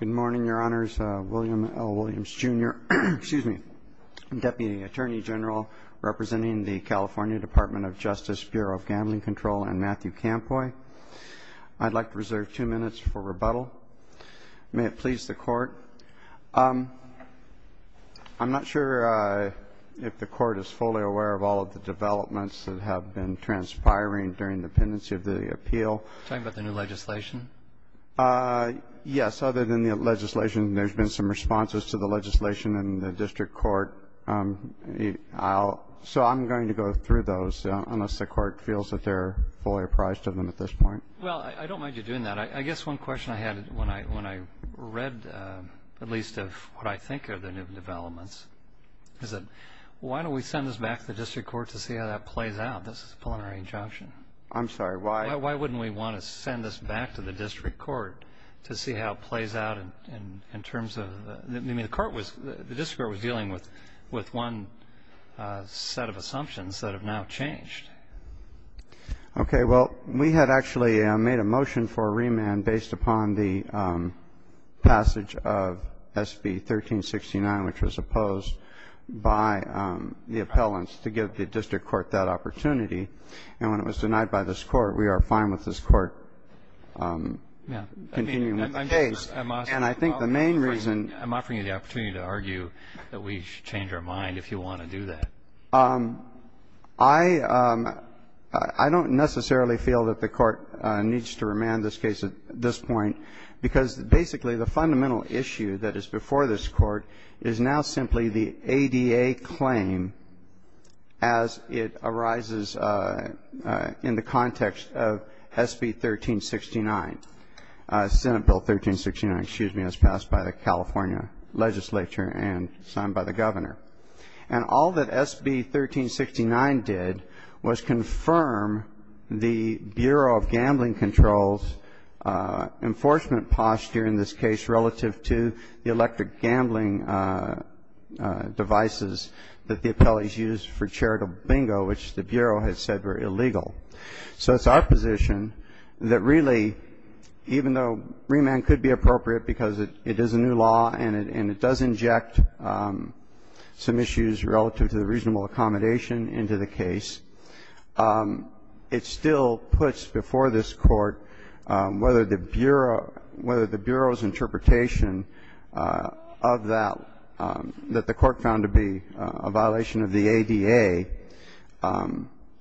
Good morning, Your Honors. William L. Williams, Jr., Deputy Attorney General, representing the California Department of Justice, Bureau of Gambling Control, and Matthew Campoy. I'd like to reserve two minutes for rebuttal. May it please the Court. I'm not sure if the Court is fully aware of all of the developments that have been transpiring during the pendency of the appeal. Are you talking about the new legislation? Yes. Other than the legislation, there's been some responses to the legislation in the district court. So I'm going to go through those, unless the Court feels that they're fully apprised of them at this point. Well, I don't mind you doing that. I guess one question I had when I read at least of what I think are the new developments is that why don't we send this back to the district court to see how that plays out, this plenary injunction? I'm sorry, why? Why wouldn't we want to send this back to the district court to see how it plays out in terms of the court was the district court was dealing with one set of assumptions that have now changed? Okay. Well, we had actually made a motion for remand based upon the passage of SB 1369, which was opposed by the appellants to give the district court that opportunity. And when it was denied by this Court, we are fine with this Court continuing with the case. And I think the main reason ---- I'm offering you the opportunity to argue that we should change our mind if you want to do that. I don't necessarily feel that the Court needs to remand this case at this point, because basically the fundamental issue that is before this Court is now simply the ADA claim as it arises in the context of SB 1369, Senate Bill 1369, excuse me, as passed by the California legislature and signed by the governor. And all that SB 1369 did was confirm the Bureau of Gambling Control's enforcement posture in this case relative to the electric gambling devices that the appellees used for charitable bingo, which the Bureau has said were illegal. So it's our position that really, even though remand could be appropriate because it is a new law and it does inject some issues relative to the reasonable accommodation into the case, it still puts before this Court whether the Bureau interpretation of that that the Court found to be a violation of the ADA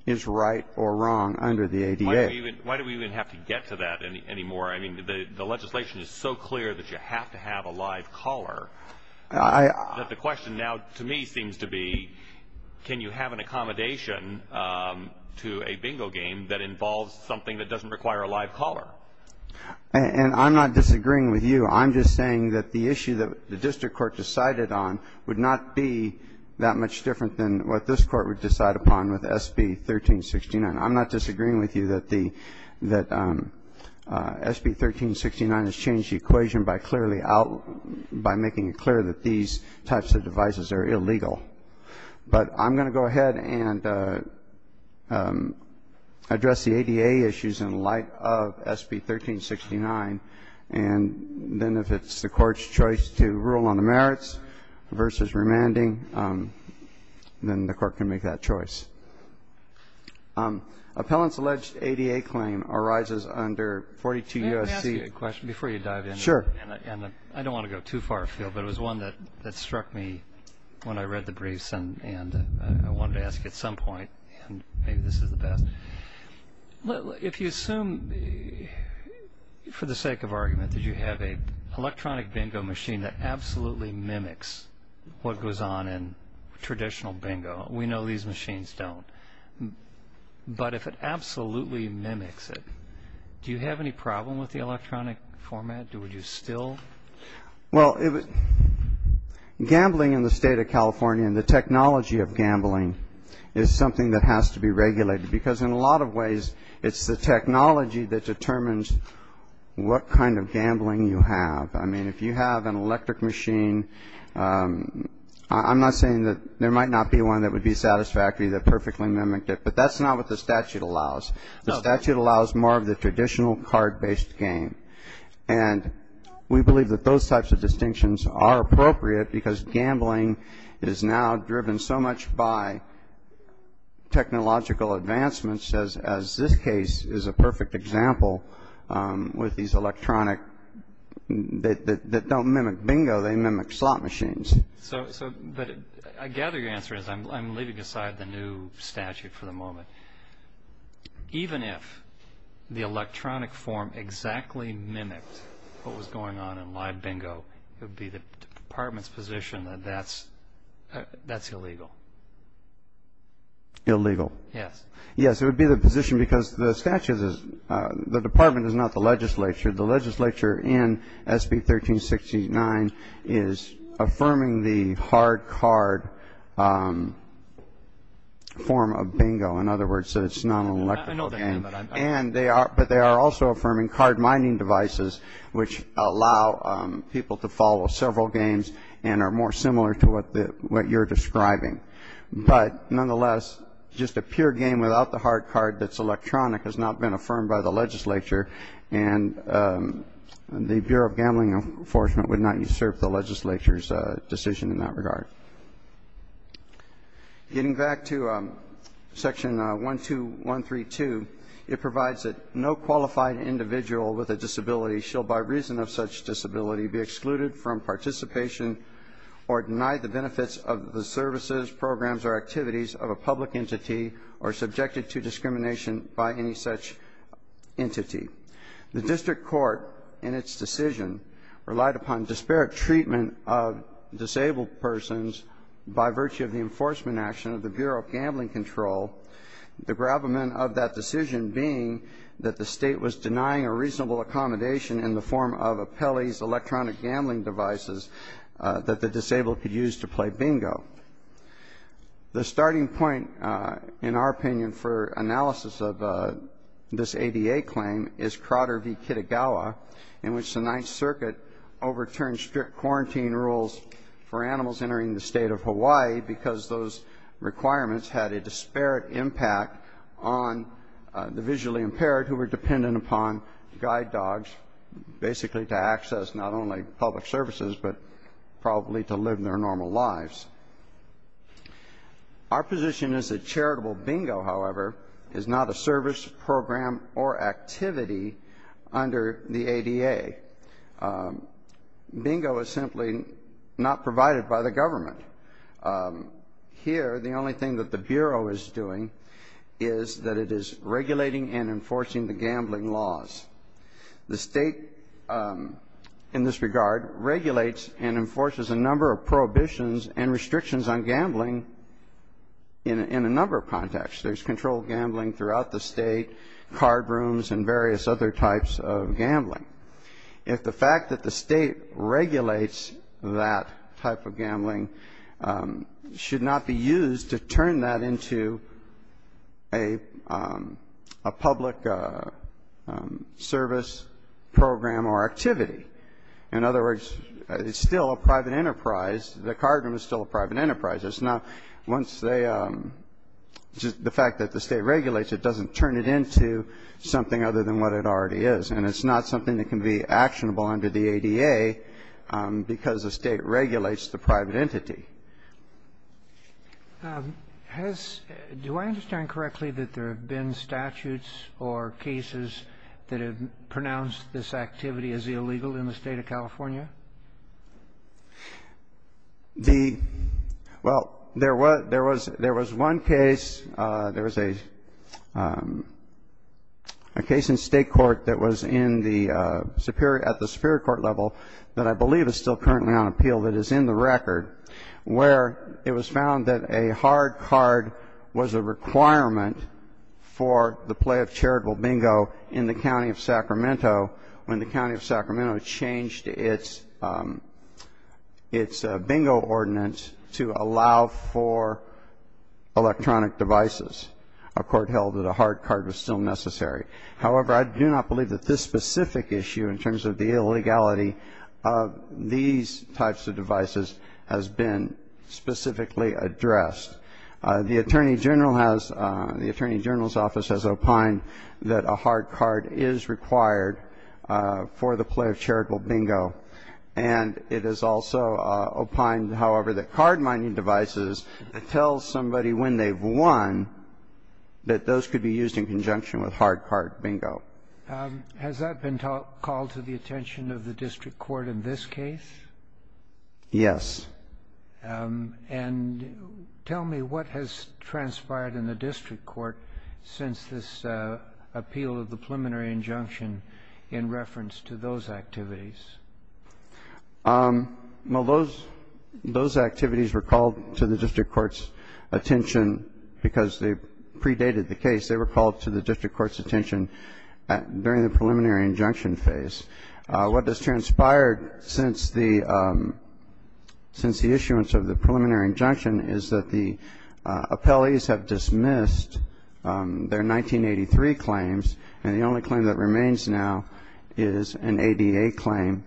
is right or wrong under the ADA. Why do we even have to get to that anymore? I mean, the legislation is so clear that you have to have a live caller that the question now to me seems to be can you have an accommodation to a bingo game that involves something that doesn't require a live caller? And I'm not disagreeing with you. I'm just saying that the issue that the district court decided on would not be that much different than what this Court would decide upon with SB 1369. I'm not disagreeing with you that SB 1369 has changed the equation by clearly out by making it clear that these types of devices are illegal. But I'm going to go ahead and address the ADA issues in light of SB 1369, and then if it's the Court's choice to rule on the merits versus remanding, then the Court can make that choice. Appellant's alleged ADA claim arises under 42 U.S.C. May I ask you a question before you dive in? Sure. I don't want to go too far afield, but it was one that struck me when I read the briefs and I wanted to ask at some point, and maybe this is the best. If you assume, for the sake of argument, that you have an electronic bingo machine that absolutely mimics what goes on in traditional bingo. We know these machines don't. But if it absolutely mimics it, do you have any problem with the electronic format? Do you still? Well, gambling in the state of California, and the technology of gambling is something that has to be regulated, because in a lot of ways it's the technology that determines what kind of gambling you have. I mean, if you have an electric machine, I'm not saying that there might not be one that would be satisfactory that perfectly mimicked it, but that's not what the statute allows. The statute allows more of the traditional card-based game. And we believe that those types of distinctions are appropriate because gambling is now driven so much by technological advancements, as this case is a perfect example with these electronic that don't mimic bingo, they mimic slot machines. But I gather your answer is, I'm leaving aside the new statute for the moment, but even if the electronic form exactly mimicked what was going on in live bingo, it would be the department's position that that's illegal. Illegal. Yes. Yes, it would be the position because the statute is, the department is not the legislature. The legislature in SB 1369 is affirming the hard card form of bingo. In other words, it's not an electrical game. But they are also affirming card mining devices, which allow people to follow several games and are more similar to what you're describing. But nonetheless, just a pure game without the hard card that's electronic has not been affirmed by the legislature, and the Bureau of Gambling Enforcement would not usurp the legislature's decision in that regard. Getting back to Section 12132, it provides that no qualified individual with a disability shall by reason of such disability be excluded from participation or deny the benefits of the services, programs, or activities of a public entity or subjected to discrimination by any such entity. The district court in its decision relied upon disparate treatment of disabled persons by virtue of the enforcement action of the Bureau of Gambling Control, the gravamen of that decision being that the State was denying a reasonable accommodation in the form of a Pelley's electronic gambling devices that the disabled could use to play bingo. The starting point, in our opinion, for analysis of this ADA claim is Crowder v. Kitagawa, in which the Ninth Circuit overturned strict quarantine rules for animals entering the State of Hawaii because those requirements had a disparate impact on the visually impaired, who were dependent upon guide dogs basically to access not only public services, but probably to live their normal lives. Our position is that charitable bingo, however, is not a service, program, or activity under the ADA. Bingo is simply not provided by the government. Here, the only thing that the Bureau is doing is that it is regulating and enforcing the gambling laws. The State, in this regard, regulates and enforces a number of prohibitions and restrictions on gambling in a number of contexts. There's controlled gambling throughout the State, card rooms, and various other types of gambling. If the fact that the State regulates that type of gambling should not be used to turn that into a public service, program, or activity. In other words, it's still a private enterprise. The card room is still a private enterprise. It's not once they – the fact that the State regulates it doesn't turn it into something other than what it already is. And it's not something that can be actionable under the ADA because the State regulates the private entity. Do I understand correctly that there have been statutes or cases that have pronounced this activity as illegal in the State of California? The – well, there was one case, there was a case in State court that was in the Superior – at the Superior Court level that I believe is still currently on appeal that is in the record, where it was found that a hard card was a requirement for the play of charitable bingo in the County of Sacramento when the County of Sacramento changed its – its bingo ordinance to allow for electronic devices. A court held that a hard card was still necessary. However, I do not believe that this specific issue in terms of the illegality of these types of devices has been specifically addressed. The Attorney General has – the Attorney General's office has opined that a hard card is required for the play of charitable bingo. And it has also opined, however, that card mining devices tells somebody when they've won that those could be used in conjunction with hard card bingo. Has that been called to the attention of the district court in this case? Yes. And tell me what has transpired in the district court since this appeal of the preliminary injunction in reference to those activities. Well, those – those activities were called to the district court's attention because they predated the case. They were called to the district court's attention during the preliminary injunction phase. What has transpired since the – since the issuance of the preliminary injunction is that the appellees have dismissed their 1983 claims, and the only claim that remains now is an ADA claim.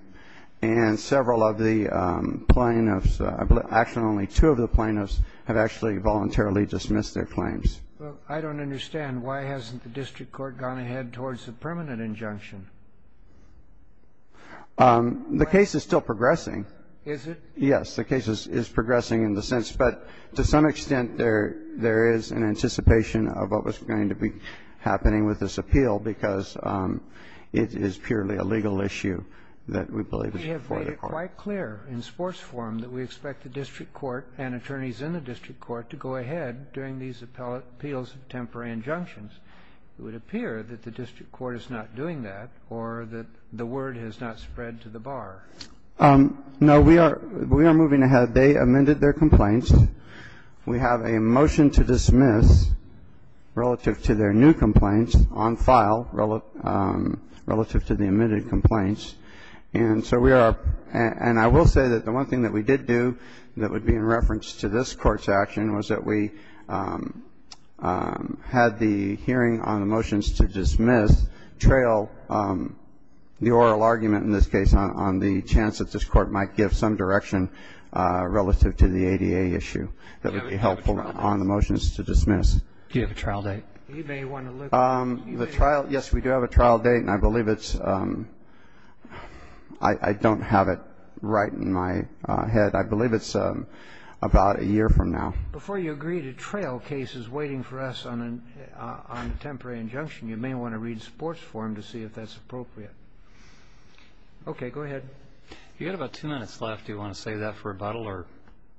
And several of the plaintiffs – actually, only two of the plaintiffs have actually voluntarily dismissed their claims. Well, I don't understand. Why hasn't the district court gone ahead towards the permanent injunction? The case is still progressing. Is it? Yes. The case is progressing in the sense. But to some extent, there is an anticipation of what was going to be happening with this appeal because it is purely a legal issue that we believe is before the court. We have made it quite clear in sports forum that we expect the district court and appeals of temporary injunctions. It would appear that the district court is not doing that or that the word has not spread to the bar. No. We are moving ahead. They amended their complaints. We have a motion to dismiss relative to their new complaints on file relative to the amended complaints. And so we are – and I will say that the one thing that we did do that would be in had the hearing on the motions to dismiss trail the oral argument in this case on the chance that this court might give some direction relative to the ADA issue that would be helpful on the motions to dismiss. Do you have a trial date? Yes, we do have a trial date. And I believe it's – I don't have it right in my head. I believe it's about a year from now. Before you agree to trail cases waiting for us on a temporary injunction, you may want to read sports forum to see if that's appropriate. Okay. Go ahead. You have about two minutes left. Do you want to save that for rebuttal or?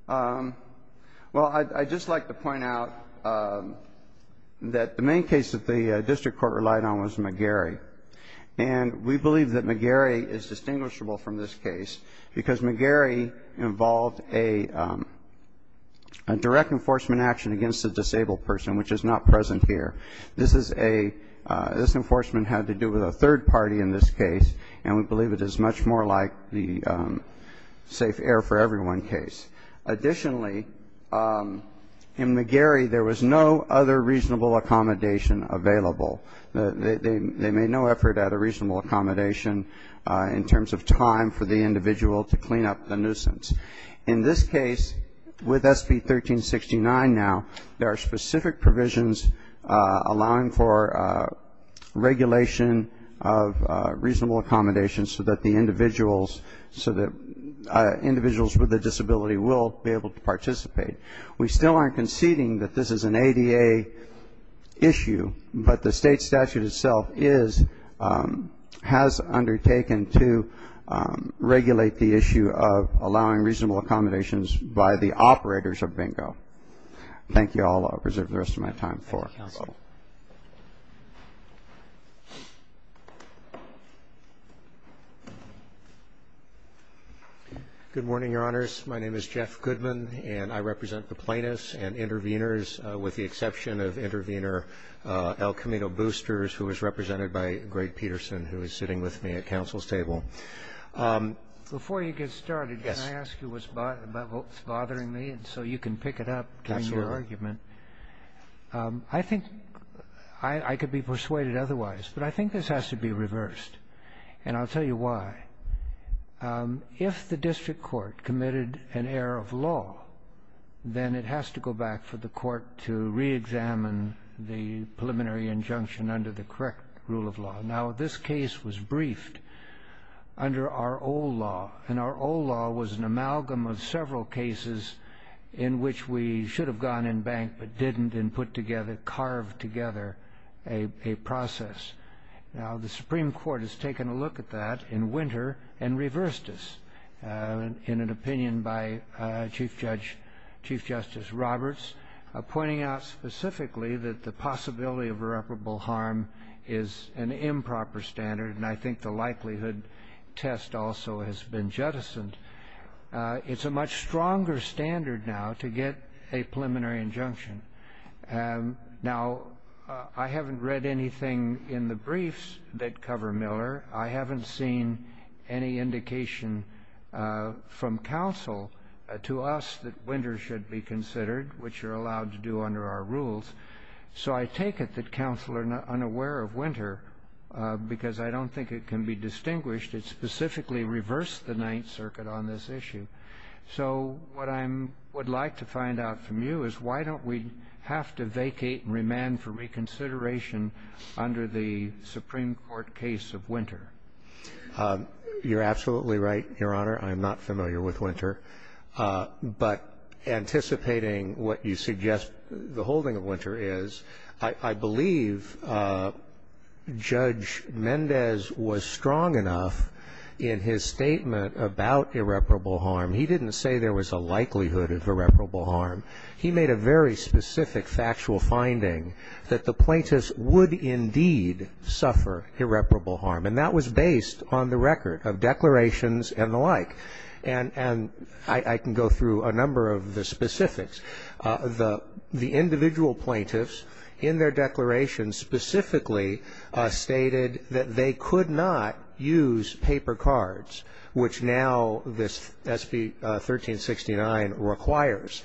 Well, I'd just like to point out that the main case that the district court relied on was McGarry. And we believe that McGarry is distinguishable from this case because McGarry involved a direct enforcement action against a disabled person, which is not present here. This is a – this enforcement had to do with a third party in this case, and we believe it is much more like the safe air for everyone case. Additionally, in McGarry there was no other reasonable accommodation available. They made no effort at a reasonable accommodation in terms of time for the individual to clean up the nuisance. In this case, with SB 1369 now, there are specific provisions allowing for regulation of reasonable accommodation so that the individuals with a disability will be able to participate. We still aren't conceding that this is an ADA issue, but the state statute itself has undertaken to regulate the issue of allowing reasonable accommodations by the operators of bingo. Thank you all. I'll reserve the rest of my time for rebuttal. Thank you, counsel. Good morning, Your Honors. My name is Jeff Goodman, and I represent the plaintiffs and intervenors, with the exception of intervenor El Camino Boosters, who is represented by Greg Peterson, who is sitting with me at counsel's table. Before you get started, can I ask you what's bothering me so you can pick it up during your argument? Absolutely. I think I could be persuaded otherwise, but I think this has to be reversed, and I'll tell you why. If the district court committed an error of law, then it has to go back for the court to reexamine the preliminary injunction under the correct rule of law. Now, this case was briefed under our old law, and our old law was an amalgam of several cases in which we should have gone in bank but didn't and put together, carved together, a process. Now, the Supreme Court has taken a look at that in winter and reversed this, in an opinion by Chief Justice Roberts, pointing out specifically that the possibility of irreparable harm is an improper standard, and I think the likelihood test also has been jettisoned. It's a much stronger standard now to get a preliminary injunction. Now, I haven't read anything in the briefs that cover Miller. I haven't seen any indication from counsel to us that winter should be considered, which you're allowed to do under our rules, so I take it that counsel are unaware of winter because I don't think it can be distinguished. It specifically reversed the Ninth Circuit on this issue. So what I would like to find out from you is why don't we have to vacate and remand for reconsideration under the Supreme Court case of winter? You're absolutely right, Your Honor. I'm not familiar with winter. But anticipating what you suggest the holding of winter is, I believe Judge Mendez was strong enough in his statement about irreparable harm. He didn't say there was a likelihood of irreparable harm. He made a very specific factual finding that the plaintiffs would indeed suffer irreparable harm, and that was based on the record of declarations and the like. And I can go through a number of the specifics. The individual plaintiffs in their declarations specifically stated that they could not use paper cards, which now this SB 1369 requires,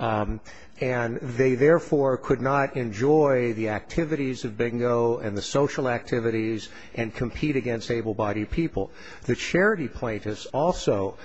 and they therefore could not enjoy the activities of bingo and the social activities and compete against able-bodied people. The charity plaintiffs also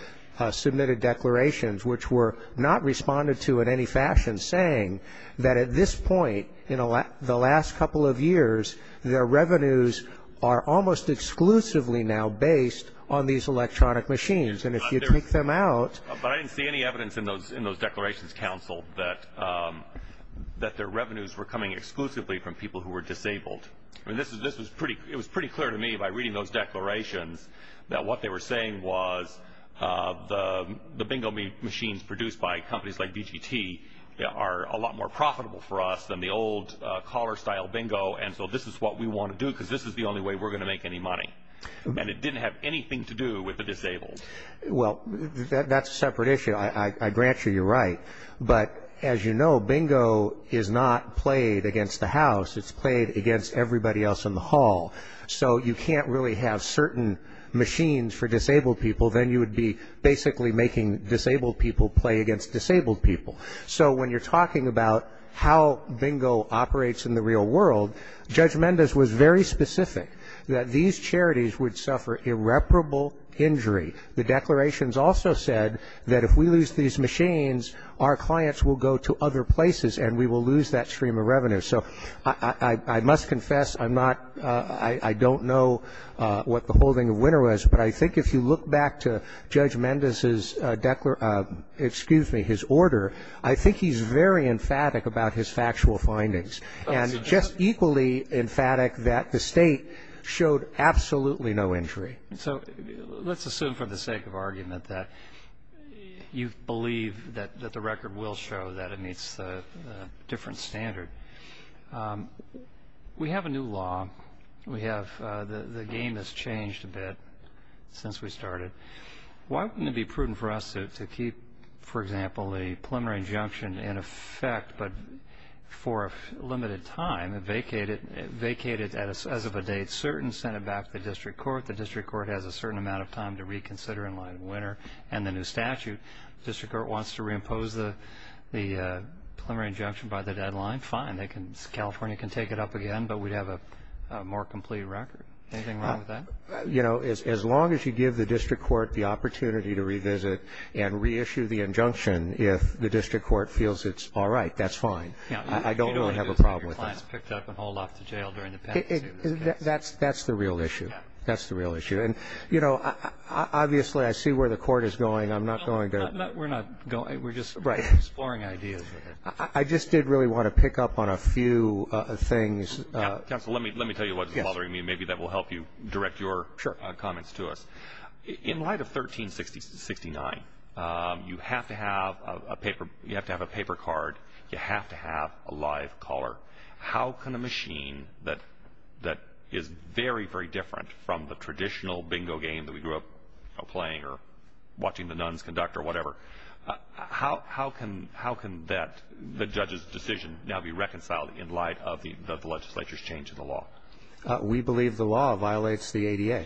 submitted declarations, which were not responded to in any fashion, saying that at this point in the last couple of years, their revenues are almost exclusively now based on these electronic machines. And if you take them out. But I didn't see any evidence in those declarations, Counsel, that their revenues were coming exclusively from people who were disabled. It was pretty clear to me by reading those declarations that what they were saying was the bingo machines produced by companies like BGT are a lot more profitable for us than the old caller-style bingo, and so this is what we want to do because this is the only way we're going to make any money. And it didn't have anything to do with the disabled. Well, that's a separate issue. I grant you you're right. But as you know, bingo is not played against the house. It's played against everybody else in the hall. So you can't really have certain machines for disabled people. Then you would be basically making disabled people play against disabled people. So when you're talking about how bingo operates in the real world, Judge Mendez was very specific that these charities would suffer irreparable injury. The declarations also said that if we lose these machines, our clients will go to other places and we will lose that stream of revenue. So I must confess, I'm not — I don't know what the holding of winner was, but I think if you look back to Judge Mendez's — excuse me, his order, I think he's very emphatic about his factual findings and just equally emphatic that the State showed absolutely no injury. So let's assume for the sake of argument that you believe that the record will show that it meets the different standard. We have a new law. We have — the game has changed a bit since we started. Why wouldn't it be prudent for us to keep, for example, a preliminary injunction in effect, but for a limited time vacate it as of a date certain, send it back to the district court. The district court has a certain amount of time to reconsider in light of winner and the new statute. The district court wants to reimpose the preliminary injunction by the deadline, fine. They can — California can take it up again, but we'd have a more complete record. Anything wrong with that? You know, as long as you give the district court the opportunity to revisit and reissue the injunction if the district court feels it's all right, that's fine. I don't really have a problem with that. You don't want to get your clients picked up and hauled off to jail during the pendency of this case. That's the real issue. That's the real issue. And, you know, obviously I see where the court is going. I'm not going to — We're not going. We're just exploring ideas. I just did really want to pick up on a few things. Counsel, let me tell you what's bothering me. Maybe that will help you direct your comments to us. Sure. In light of 1369, you have to have a paper card. You have to have a live caller. How can a machine that is very, very different from the traditional bingo game that we grew up playing or watching the nuns conduct or whatever, how can that, the judge's decision, now be reconciled in light of the legislature's change of the law? We believe the law violates the ADA.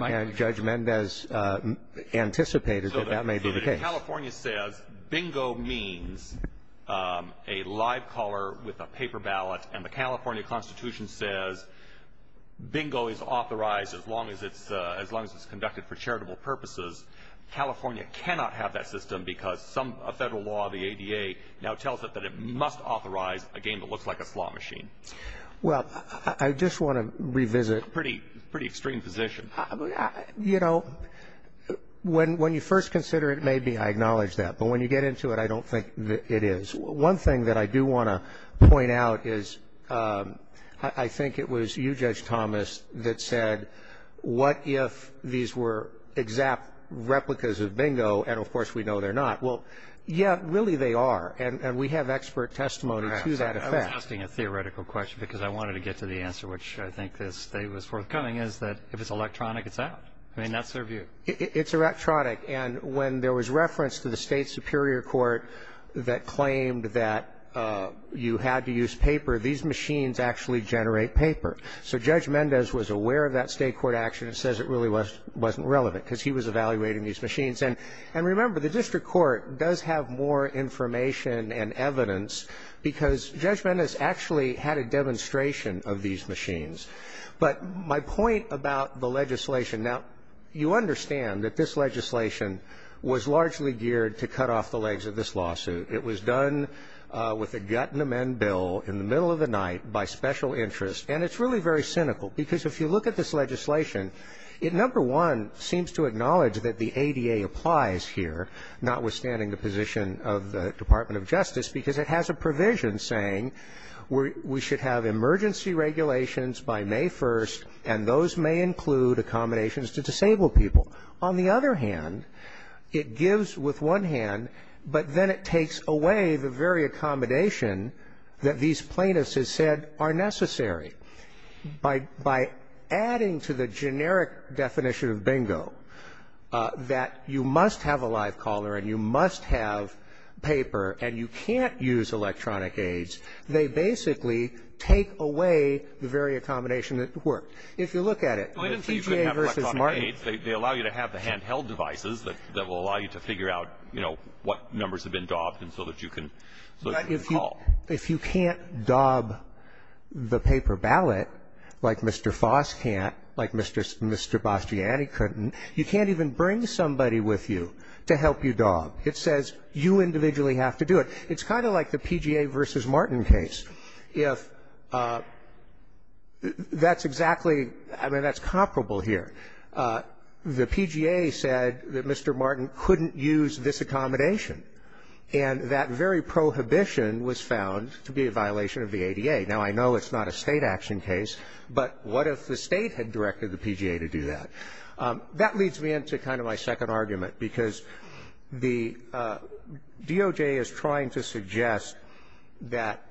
And Judge Mendez anticipated that that may be the case. California says bingo means a live caller with a paper ballot, and the California Constitution says bingo is authorized as long as it's conducted for charitable purposes. California cannot have that system because a federal law, the ADA, now tells it that it must authorize a game that looks like a slot machine. Well, I just want to revisit. Pretty extreme position. You know, when you first consider it, maybe I acknowledge that. But when you get into it, I don't think it is. One thing that I do want to point out is I think it was you, Judge Thomas, that said what if these were exact replicas of bingo, and, of course, we know they're not. Well, yeah, really they are. And we have expert testimony to that effect. I was asking a theoretical question because I wanted to get to the answer, which I think this day was forthcoming, is that if it's electronic, it's out. I mean, that's their view. It's electronic. And when there was reference to the State superior court that claimed that you had to use paper, these machines actually generate paper. So Judge Mendez was aware of that State court action and says it really wasn't relevant because he was evaluating these machines. And remember, the district court does have more information and evidence because Judge Mendez actually had a demonstration of these machines. But my point about the legislation, now, you understand that this legislation was largely geared to cut off the legs of this lawsuit. It was done with a gut and amend bill in the middle of the night by special interest. And it's really very cynical because if you look at this legislation, it, number one, seems to acknowledge that the ADA applies here, notwithstanding the position of the Department of Justice, because it has a provision saying we should have emergency regulations by May 1st, and those may include accommodations to disabled people. On the other hand, it gives with one hand, but then it takes away the very accommodation that these plaintiffs have said are necessary. By adding to the generic definition of bingo, that you must have a live caller and you must have paper and you can't use electronic aids, they basically take away the very accommodation that worked. If you look at it, the PGA v. Martin. They allow you to have the handheld devices that will allow you to figure out, you know, what numbers have been daubed and so that you can call. If you can't daub the paper ballot, like Mr. Foss can't, like Mr. Bastiani couldn't, you can't even bring somebody with you to help you daub. It says you individually have to do it. It's kind of like the PGA v. Martin case. If that's exactly, I mean, that's comparable here. The PGA said that Mr. Martin couldn't use this accommodation. And that very prohibition was found to be a violation of the ADA. Now, I know it's not a State action case, but what if the State had directed the PGA to do that? That leads me into kind of my second argument, because the DOJ is trying to suggest that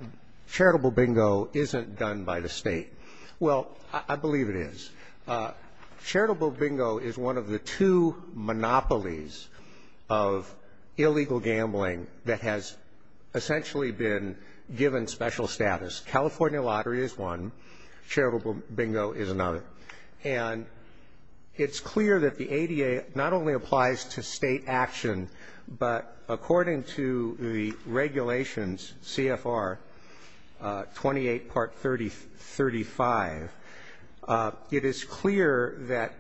charitable bingo isn't done by the State. Well, I believe it is. Charitable bingo is one of the two monopolies of illegal gambling that has essentially been given special status. California lottery is one. Charitable bingo is another. And it's clear that the ADA not only applies to State action, but according to the regulations, CFR 28 part 3035, it is clear that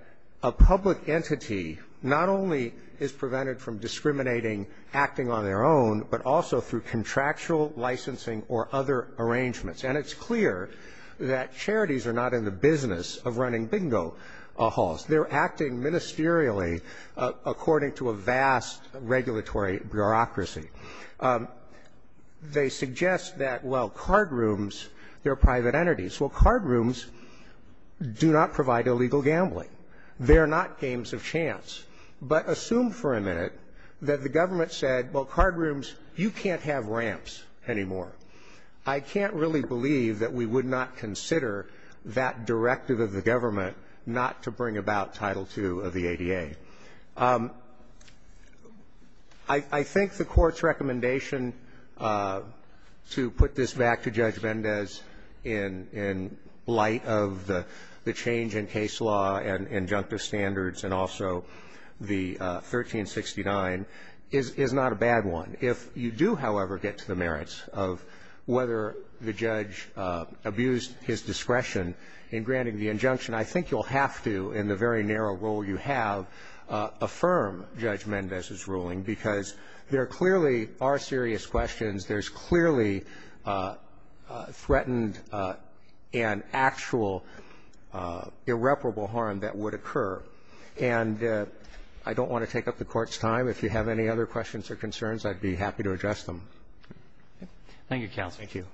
a public entity not only is prevented from discriminating, acting on their own, but also through contractual licensing or other arrangements. And it's clear that charities are not in the business of running bingo halls. They're acting ministerially according to a vast regulatory bureaucracy. They suggest that, well, cardrooms, they're private entities. Well, cardrooms do not provide illegal gambling. They're not games of chance. But assume for a minute that the government said, well, cardrooms, you can't have ramps anymore. I can't really believe that we would not consider that directive of the government not to bring about Title II of the ADA. I think the Court's recommendation to put this back to Judge Vendez in light of the change in case law and injunctive standards and also the 1369 is not a bad one. And if you do, however, get to the merits of whether the judge abused his discretion in granting the injunction, I think you'll have to, in the very narrow role you have, affirm Judge Mendez's ruling, because there clearly are serious questions. There's clearly threatened and actual irreparable harm that would occur. And I don't want to take up the Court's time. If you have any other questions or concerns, I'd be happy to address them. Thank you, Counsel. Thank you.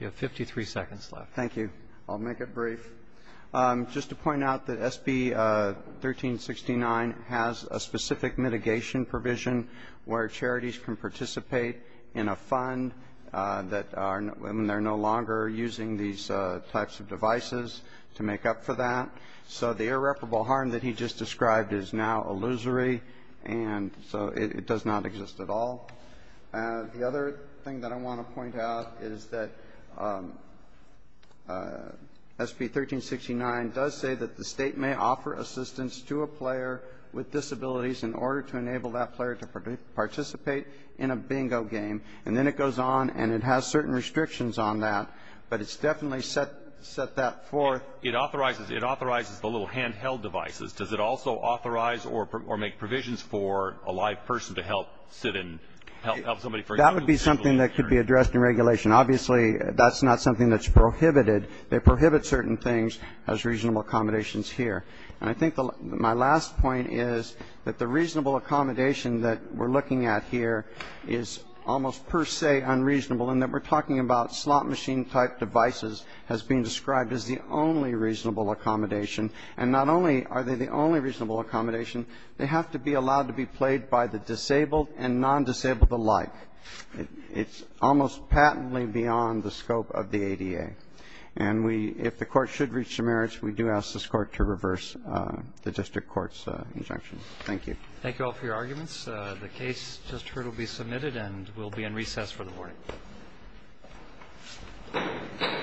You have 53 seconds left. Thank you. I'll make it brief. Just to point out that SB 1369 has a specific mitigation provision where charities can participate in a fund when they're no longer using these types of devices to make up for that. So the irreparable harm that he just described is now illusory, and so it does not exist at all. The other thing that I want to point out is that SB 1369 does say that the State may offer assistance to a player with disabilities in order to enable that player to participate in a bingo game. And then it goes on and it has certain restrictions on that, but it's definitely set that forth. It authorizes the little handheld devices. Does it also authorize or make provisions for a live person to help sit in, help somebody for example? That would be something that could be addressed in regulation. Obviously, that's not something that's prohibited. They prohibit certain things as reasonable accommodations here. And I think my last point is that the reasonable accommodation that we're looking at here is almost per se unreasonable in that we're talking about slot machine type devices has been described as the only reasonable accommodation. And not only are they the only reasonable accommodation, they have to be allowed to be played by the disabled and non-disabled alike. It's almost patently beyond the scope of the ADA. And if the court should reach demerits, we do ask this court to reverse the district court's injunction. Thank you. Thank you all for your arguments. The case just heard will be submitted and will be in recess for the morning.